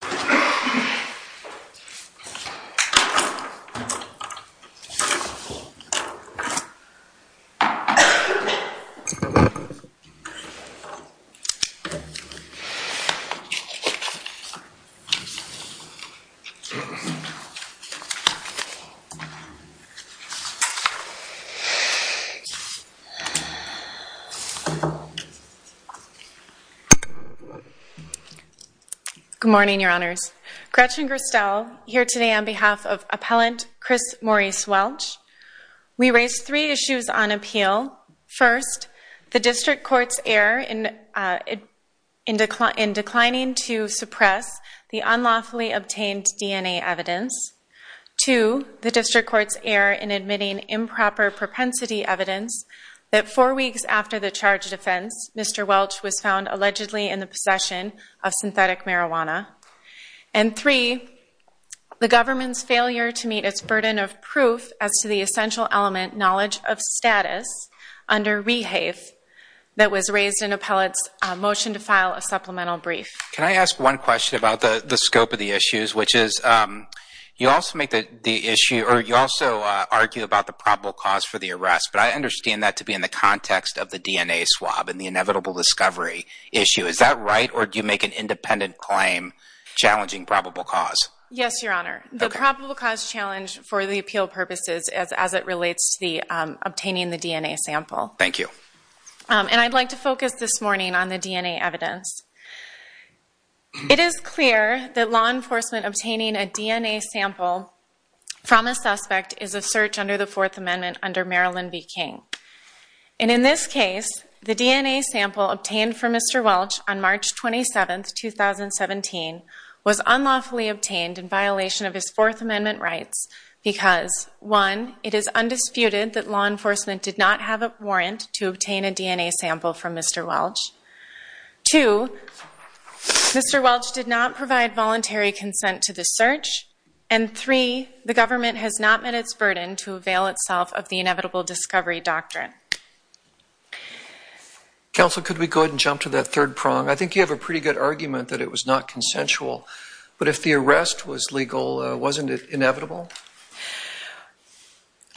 Good morning, your Honorable Mr. Welch, Mr. Welch, Mr. Welch, Mr. Welch, Mr. Welch, Mr. Good morning, your Honors. Gretchen Gristel here today on behalf of Appellant Chris Maurice Welch. We raised three issues on appeal. First, the District Court's error in declining to suppress the unlawfully obtained DNA evidence. Two, the District Court's error in admitting improper propensity evidence that four weeks after the charge of offense, Mr. Welch was found allegedly in the possession of synthetic marijuana. And three, the government's failure to meet its burden of proof as to the essential element, knowledge of status, under Rehave, that was raised in Appellate's motion to file a supplemental brief. Can I ask one question about the scope of the issues, which is you also make the issue, or you also argue about the probable cause for the arrest, but I understand that to be in the context of the DNA swab and the inevitable discovery issue. Is that right, or do you make an independent claim challenging probable cause? Yes, your Honor. The probable cause challenge for the appeal purposes as it relates to the obtaining the DNA sample. Thank you. And I'd like to focus this morning on the DNA evidence. It is clear that law enforcement obtaining a DNA sample from a suspect is a search under the Fourth Amendment under Maryland v. King. And in this case, the DNA sample obtained from Mr. Welch on March 27, 2017, was unlawfully obtained in violation of his Fourth Amendment rights because, one, it is undisputed that law enforcement did not have a warrant to obtain a DNA sample from Mr. Welch. Two, Mr. Welch did not provide voluntary consent to the search, and three, the government has not met its burden to avail itself of the inevitable discovery doctrine. Counsel, could we go ahead and jump to that third prong? I think you have a pretty good argument that it was not consensual, but if the arrest was legal, wasn't it inevitable?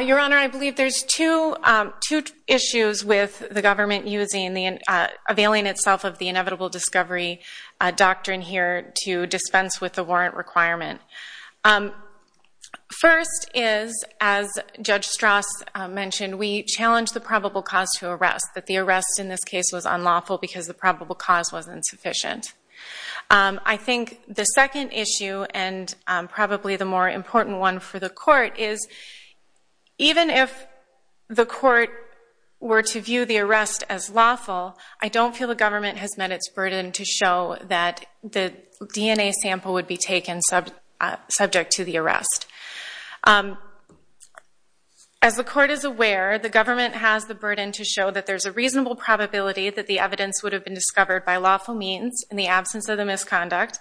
Your Honor, I believe there's two issues with the government availing itself of the inevitable discovery doctrine here to dispense with the warrant requirement. First is, as Judge Strauss mentioned, we challenged the probable cause to arrest, that the arrest in this case was unlawful because the probable cause was insufficient. I think the second issue, and probably the more important one for the court, is even if the court were to view the arrest as lawful, I don't feel the government has met its burden to show that the DNA sample would be taken subject to the arrest. As the court is aware, the government has the burden to show that there's a reasonable probability that the evidence would have been discovered by lawful means in the absence of the misconduct,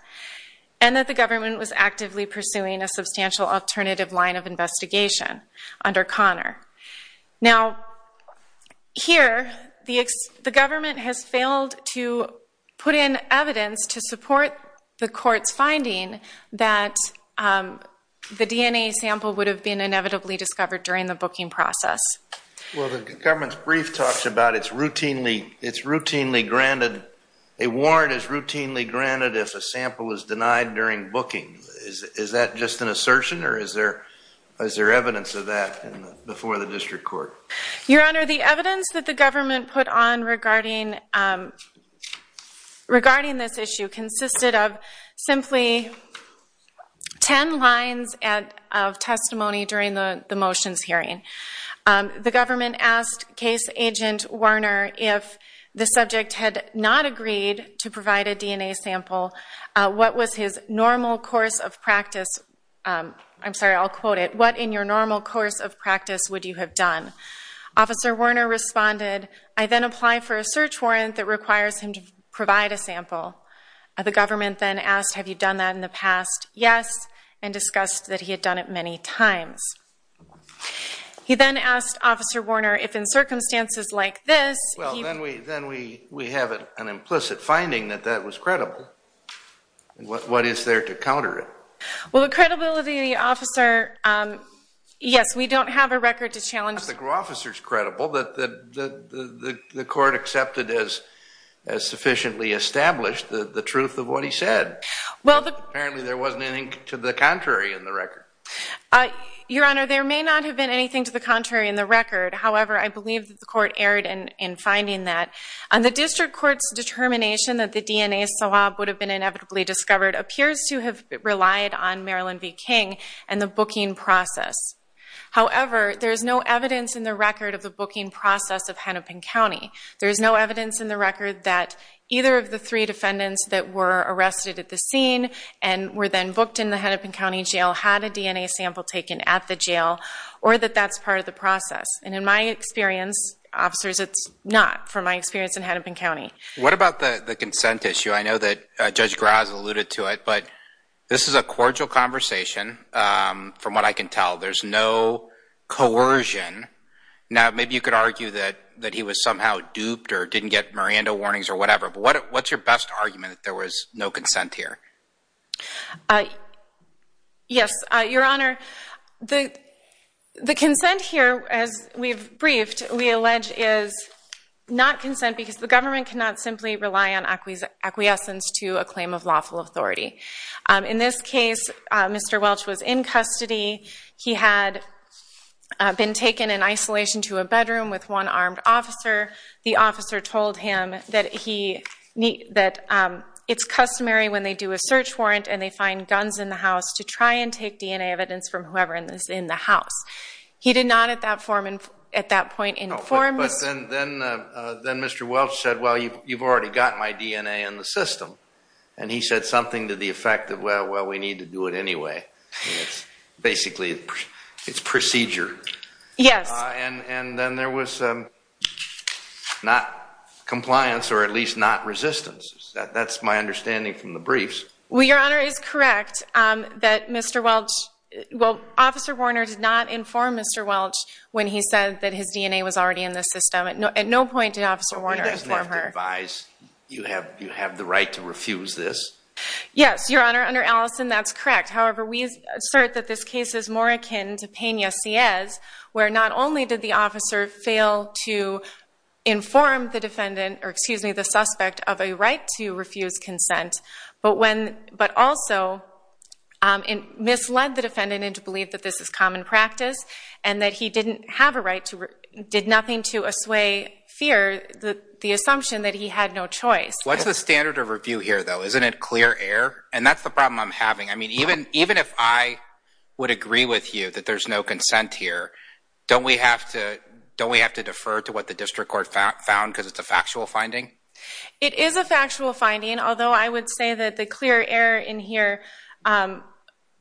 and that the government was actively pursuing a substantial alternative line of investigation under Connor. Now, here, the government has failed to put in evidence to support the court's finding that the DNA sample would have been inevitably discovered during the booking process. Well, the government's brief talks about it's routinely granted, a warrant is routinely granted if a sample is denied during booking. Is that just an assertion, or is there evidence of that before the district court? Your Honor, the evidence that the government put on regarding this issue consisted of simply 10 lines of testimony during the motions hearing. The government asked Case Agent Warner if the subject had not agreed to provide a DNA sample, what was his normal course of practice, I'm sorry, I'll quote it, what in your normal course of practice would you have done? Officer Warner responded, I then apply for a search warrant that requires him to provide a sample. The government then asked, have you done that in the past? Yes, and discussed that he had done it many times. He then asked Officer Warner if in circumstances like this, he... Well, then we have an implicit finding that that was credible. What is there to counter it? Well, the credibility of the officer, yes, we don't have a record to challenge... Not that the officer's credible, the court accepted as sufficiently established the truth of what he said. Apparently there wasn't anything to the contrary in the record. Your Honor, there may not have been anything to the contrary in the record, however, I believe that the court erred in finding that. The district court's determination that the DNA swab would have been inevitably discovered appears to have relied on Marilyn V. King and the booking process. However, there is no evidence in the record of the booking process of Hennepin County. There is no evidence in the record that either of the three defendants that were arrested at the scene and were then booked in the Hennepin County Jail had a DNA sample taken at the jail, or that that's part of the process. And in my experience, officers, it's not from my experience in Hennepin County. What about the consent issue? I know that Judge Graz alluded to it, but this is a cordial conversation from what I can tell. There's no coercion. Now, maybe you could argue that he was somehow duped or didn't get Miranda warnings or whatever, but what's your best argument that there was no consent here? Yes, Your Honor, the consent here, as we've briefed, we allege is not consent because the government cannot simply rely on acquiescence to a claim of lawful authority. In this case, Mr. Welch was in custody. He had been taken in isolation to a bedroom with one armed officer. The officer told him that it's customary when they do a search warrant and they find guns in the house to try and take DNA evidence from whoever is in the house. He did not at that point inform Mr. Welch. And then Mr. Welch said, well, you've already got my DNA in the system. And he said something to the effect of, well, we need to do it anyway. It's basically, it's procedure. Yes. And then there was not compliance or at least not resistance. That's my understanding from the briefs. Well, Your Honor, it is correct that Mr. Welch, well, Officer Warner did not inform Mr. Welch when he said that his DNA was already in the system. At no point did Officer Warner inform her. You have the right to refuse this? Yes, Your Honor. Under Allison, that's correct. However, we assert that this case is more akin to Pena-Sies where not only did the officer fail to inform the defendant, or excuse me, the suspect of a right to refuse consent, but also misled the defendant into believing that this is common practice and that he didn't have a right to, did nothing to assuage fear, the assumption that he had no choice. What's the standard of review here, though? Isn't it clear air? And that's the problem I'm having. I mean, even if I would agree with you that there's no consent here, don't we have to defer to what the district court found because it's a factual finding? It is a factual finding, although I would say that the clear air in here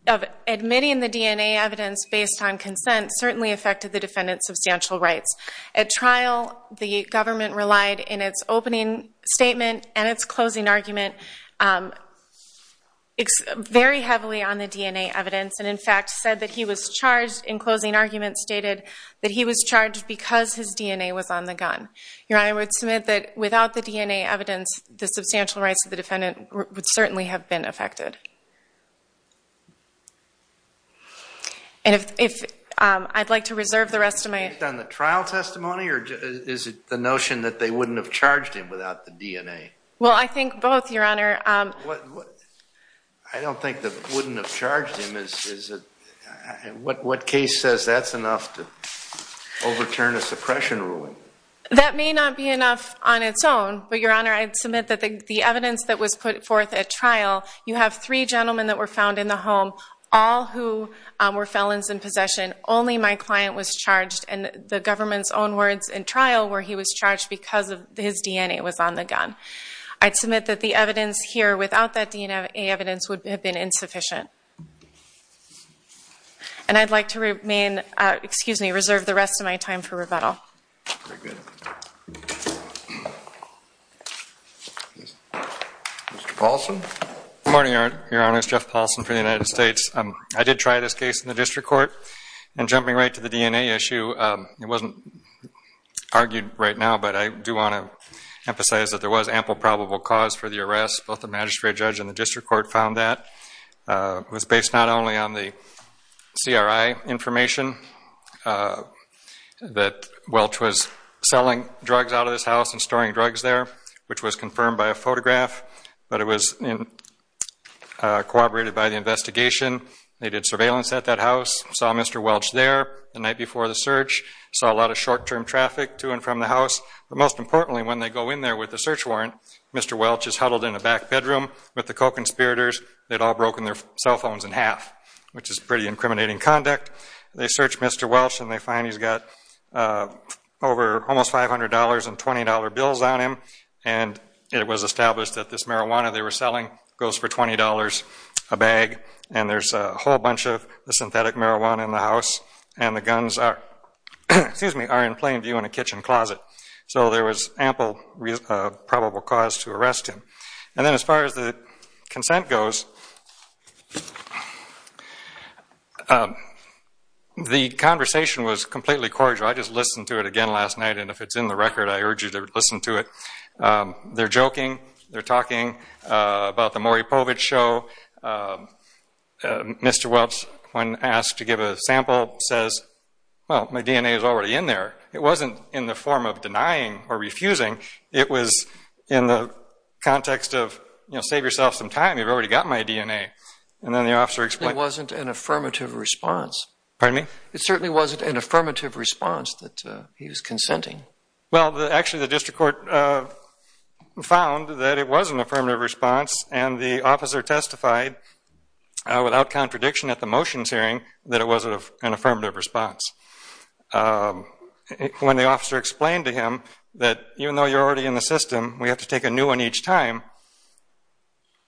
of admitting the DNA evidence based on consent certainly affected the defendant's substantial rights. At trial, the government relied in its opening statement and its closing argument very heavily on the DNA evidence, and in fact said that he was charged, in closing argument stated that he was charged because his DNA was on the gun. Your Honor, I would submit that without the DNA evidence, the substantial rights of the defendant would certainly have been affected. And if I'd like to reserve the rest of my... Based on the trial testimony, or is it the notion that they wouldn't have charged him without the DNA? Well, I think both, Your Honor. I don't think that wouldn't have charged him. What case says that's enough to overturn a suppression ruling? That may not be enough on its own, but Your Honor, I'd submit that the evidence that was put forth at trial, you have three gentlemen that were found in the home, all who were felons in possession. Only my client was charged, and the government's own words in trial were he was charged because his DNA was on the gun. I'd submit that the evidence here without that DNA evidence would have been insufficient. And I'd like to remain, excuse me, reserve the rest of my time for rebuttal. Very good. Mr. Paulson. Good morning, Your Honor. It's Jeff Paulson for the United States. I did try this case in the district court, and jumping right to the DNA issue, it wasn't argued right now, but I do want to emphasize that there was ample probable cause for the arrest. Both the magistrate judge and the district court found that. It was based not only on the CRI information that Welch was selling, selling drugs out of this house and storing drugs there, which was confirmed by a photograph, but it was corroborated by the investigation. They did surveillance at that house, saw Mr. Welch there the night before the search, saw a lot of short-term traffic to and from the house. But most importantly, when they go in there with the search warrant, Mr. Welch is huddled in a back bedroom with the co-conspirators. They'd all broken their cell phones in half, which is pretty incriminating conduct. They search Mr. Welch, and they find he's got almost $500 in $20 bills on him, and it was established that this marijuana they were selling goes for $20 a bag, and there's a whole bunch of synthetic marijuana in the house, and the guns are in plain view in a kitchen closet. So there was ample probable cause to arrest him. And then as far as the consent goes, the conversation was completely cordial. I just listened to it again last night, and if it's in the record, I urge you to listen to it. They're joking, they're talking about the Maury Povich show. Mr. Welch, when asked to give a sample, says, well, my DNA is already in there. It wasn't in the form of denying or refusing. It was in the context of, you know, save yourself some time. You've already got my DNA. It wasn't an affirmative response. Pardon me? It certainly wasn't an affirmative response that he was consenting. Well, actually, the district court found that it was an affirmative response, and the officer testified without contradiction at the motions hearing that it was an affirmative response. When the officer explained to him that even though you're already in the system, we have to take a new one each time,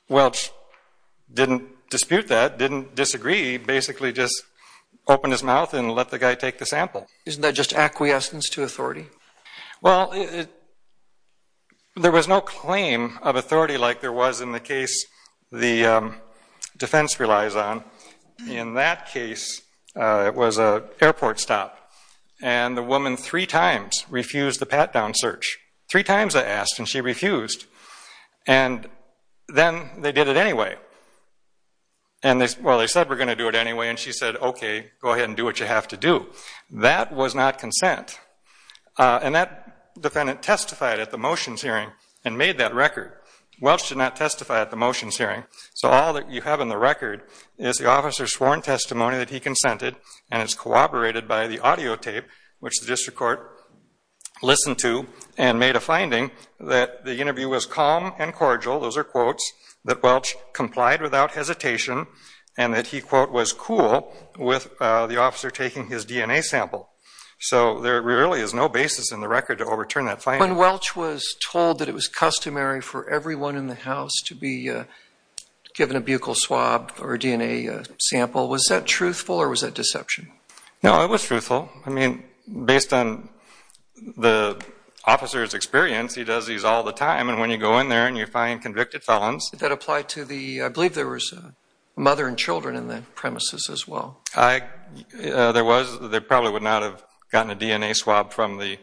Welch didn't dispute that, didn't disagree, basically just opened his mouth and let the guy take the sample. Isn't that just acquiescence to authority? Well, there was no claim of authority like there was in the case the defense relies on. In that case, it was an airport stop. And the woman three times refused the pat-down search. Three times I asked, and she refused. And then they did it anyway. Well, they said, we're going to do it anyway, and she said, okay, go ahead and do what you have to do. That was not consent. And that defendant testified at the motions hearing and made that record. Welch did not testify at the motions hearing. So all that you have in the record is the officer's sworn testimony that he consented and is corroborated by the audio tape, which the district court listened to and made a finding that the interview was calm and cordial, those are quotes, that Welch complied without hesitation and that he, quote, was cool with the officer taking his DNA sample. So there really is no basis in the record to overturn that finding. When Welch was told that it was customary for everyone in the house to be given a buccal swab or a DNA sample, was that truthful or was that deception? No, it was truthful. I mean, based on the officer's experience, he does these all the time. And when you go in there and you find convicted felons. Did that apply to the, I believe there was a mother and children in the premises as well. There probably would not have gotten a DNA swab from the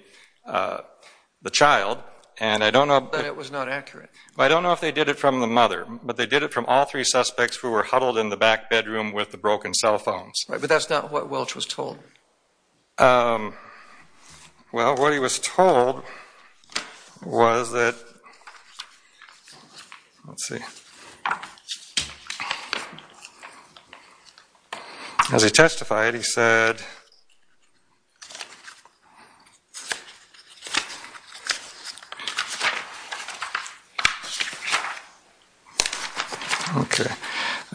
child. But it was not accurate. I don't know if they did it from the mother. But they did it from all three suspects who were huddled in the back bedroom with the broken cell phones. But that's not what Welch was told. Well, what he was told was that, let's see. As he testified, he said,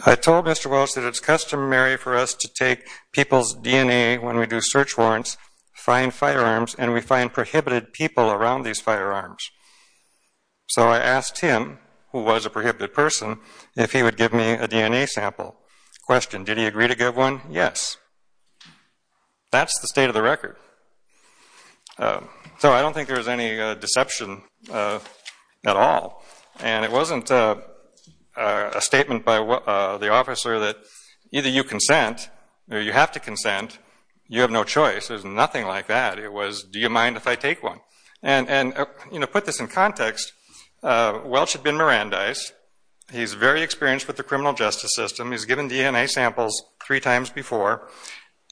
I told Mr. Welch that it's customary for us to take people's DNA when we do search warrants, find firearms, and we find prohibited people around these firearms. So I asked him, who was a prohibited person, if he would give me a DNA sample. Question, did he agree to give one? Yes. That's the state of the record. So I don't think there was any deception at all. And it wasn't a statement by the officer that either you consent, or you have to consent, you have no choice. There's nothing like that. It was, do you mind if I take one? And to put this in context, Welch had been Mirandized. He's very experienced with the criminal justice system. He's given DNA samples three times before.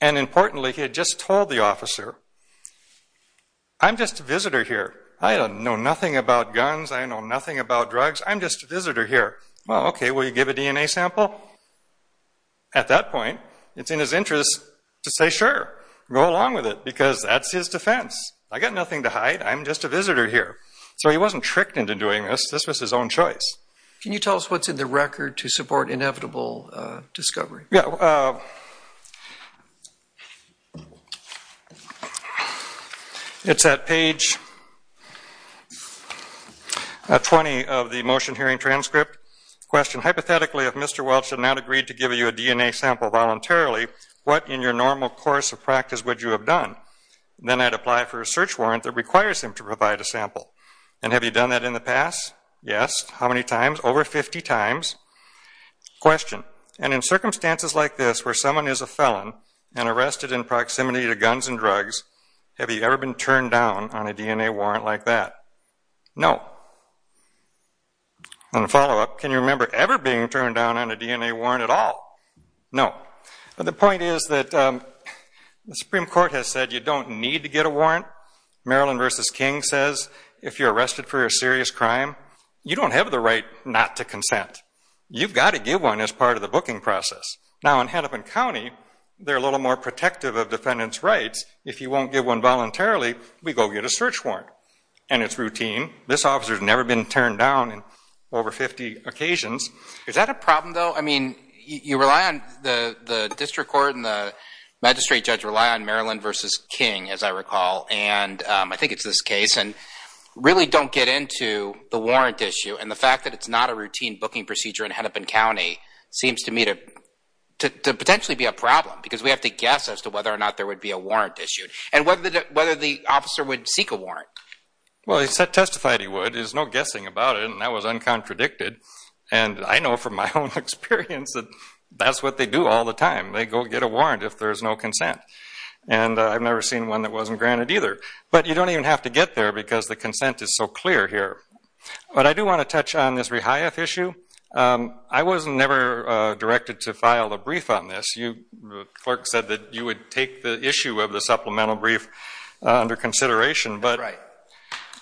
And importantly, he had just told the officer, I'm just a visitor here. I don't know nothing about guns. I know nothing about drugs. I'm just a visitor here. Well, okay, will you give a DNA sample? At that point, it's in his interest to say, sure, go along with it, because that's his defense. I've got nothing to hide. I'm just a visitor here. So he wasn't tricked into doing this. This was his own choice. Yeah. It's at page 20 of the motion hearing transcript. Question, hypothetically, if Mr. Welch had not agreed to give you a DNA sample voluntarily, what in your normal course of practice would you have done? Then I'd apply for a search warrant that requires him to provide a sample. And have you done that in the past? Yes. How many times? Over 50 times. Question, and in circumstances like this where someone is a felon and arrested in proximity to guns and drugs, have you ever been turned down on a DNA warrant like that? No. And a follow-up, can you remember ever being turned down on a DNA warrant at all? No. The point is that the Supreme Court has said you don't need to get a warrant. Maryland v. King says if you're arrested for a serious crime, you don't have the right not to consent. You've got to give one as part of the booking process. Now, in Hennepin County, they're a little more protective of defendants' rights. If you won't give one voluntarily, we go get a search warrant. And it's routine. This officer's never been turned down in over 50 occasions. Is that a problem, though? I mean, you rely on the district court and the magistrate judge rely on Maryland v. King, as I recall. And I think it's this case. And really don't get into the warrant issue and the fact that it's not a routine booking procedure in Hennepin County seems to me to potentially be a problem because we have to guess as to whether or not there would be a warrant issued and whether the officer would seek a warrant. Well, he testified he would. There's no guessing about it, and that was uncontradicted. And I know from my own experience that that's what they do all the time. They go get a warrant if there's no consent. And I've never seen one that wasn't granted either. But you don't even have to get there because the consent is so clear here. But I do want to touch on this Rehiath issue. I was never directed to file a brief on this. The clerk said that you would take the issue of the supplemental brief under consideration. That's right.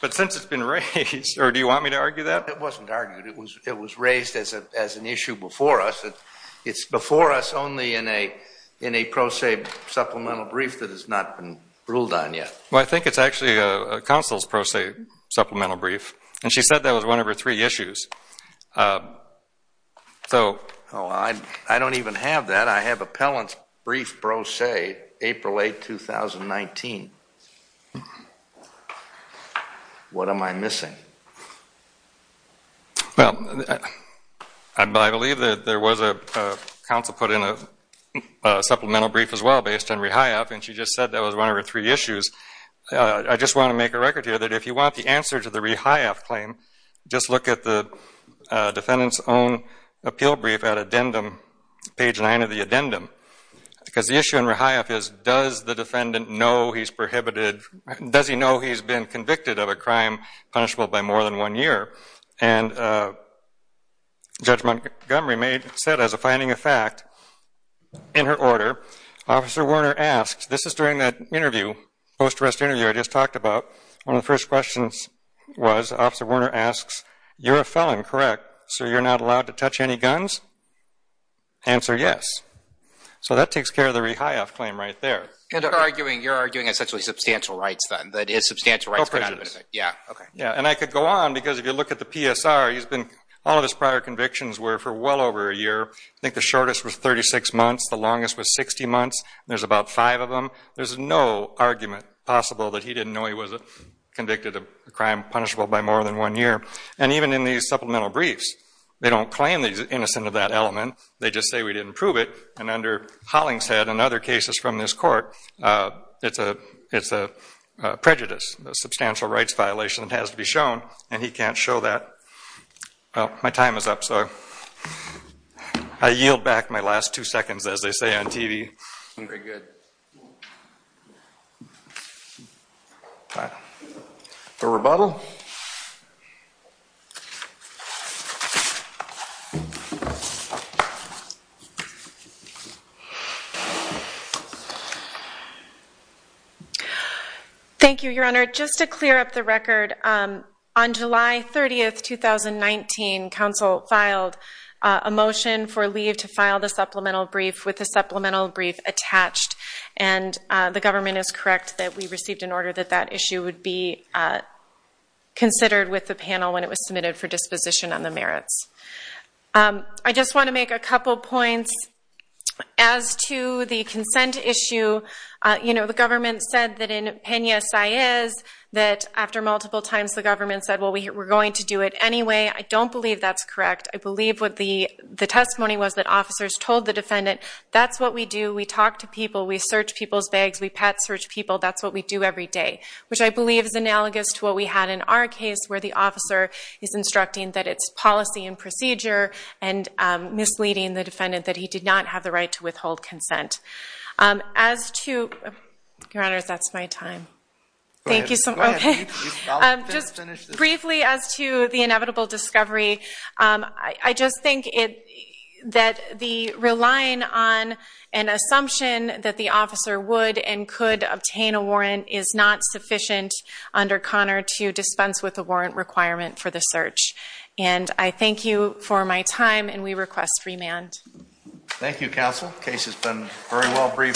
But since it's been raised, or do you want me to argue that? It wasn't argued. It was raised as an issue before us. It's before us only in a pro se supplemental brief that has not been ruled on yet. Well, I think it's actually a council's pro se supplemental brief. And she said that was one of her three issues. Oh, I don't even have that. I have appellant's brief pro se April 8, 2019. What am I missing? Well, I believe that there was a council put in a supplemental brief as well based on Rehiath. And she just said that was one of her three issues. I just want to make a record here that if you want the answer to the Rehiath claim, just look at the defendant's own appeal brief at page 9 of the addendum. Because the issue in Rehiath is does the defendant know he's been convicted of a crime punishable by more than one year? And Judge Montgomery said as a finding of fact in her order, Officer Werner asks, this is during that interview, post-arrest interview I just talked about. One of the first questions was, Officer Werner asks, you're a felon, correct? So you're not allowed to touch any guns? Answer, yes. So that takes care of the Rehiath claim right there. You're arguing essentially substantial rights then. Yeah. And I could go on because if you look at the PSR, all of his prior convictions were for well over a year. I think the shortest was 36 months. The longest was 60 months. There's about five of them. There's no argument possible that he didn't know he was convicted of a crime punishable by more than one year. And even in these supplemental briefs, they don't claim he's innocent of that element. They just say we didn't prove it. And under Hollingshead and other cases from this court, it's a prejudice, a substantial rights violation that has to be shown. And he can't show that. Well, my time is up. So I yield back my last two seconds, as they say on TV. Very good. For rebuttal. Thank you, Your Honor. Your Honor, just to clear up the record, on July 30, 2019, counsel filed a motion for leave to file the supplemental brief with the supplemental brief attached. And the government is correct that we received an order that that issue would be considered with the panel when it was submitted for disposition on the merits. I just want to make a couple points. As to the consent issue, you know, the government said that in Pena-Saez, that after multiple times the government said, well, we're going to do it anyway. I don't believe that's correct. I believe what the testimony was that officers told the defendant, that's what we do. We talk to people. We search people's bags. We pet search people. That's what we do every day, which I believe is analogous to what we had in our case, where the officer is instructing that it's policy and procedure and misleading the defendant that he did not have the right to withhold consent. As to, Your Honor, that's my time. Thank you. Just briefly as to the inevitable discovery, I just think that the relying on an assumption that the officer would and could obtain a warrant is not sufficient under Connor to dispense with the warrant requirement for the search. And I thank you for my time, and we request remand. Thank you, Counsel. The case has been very well briefed.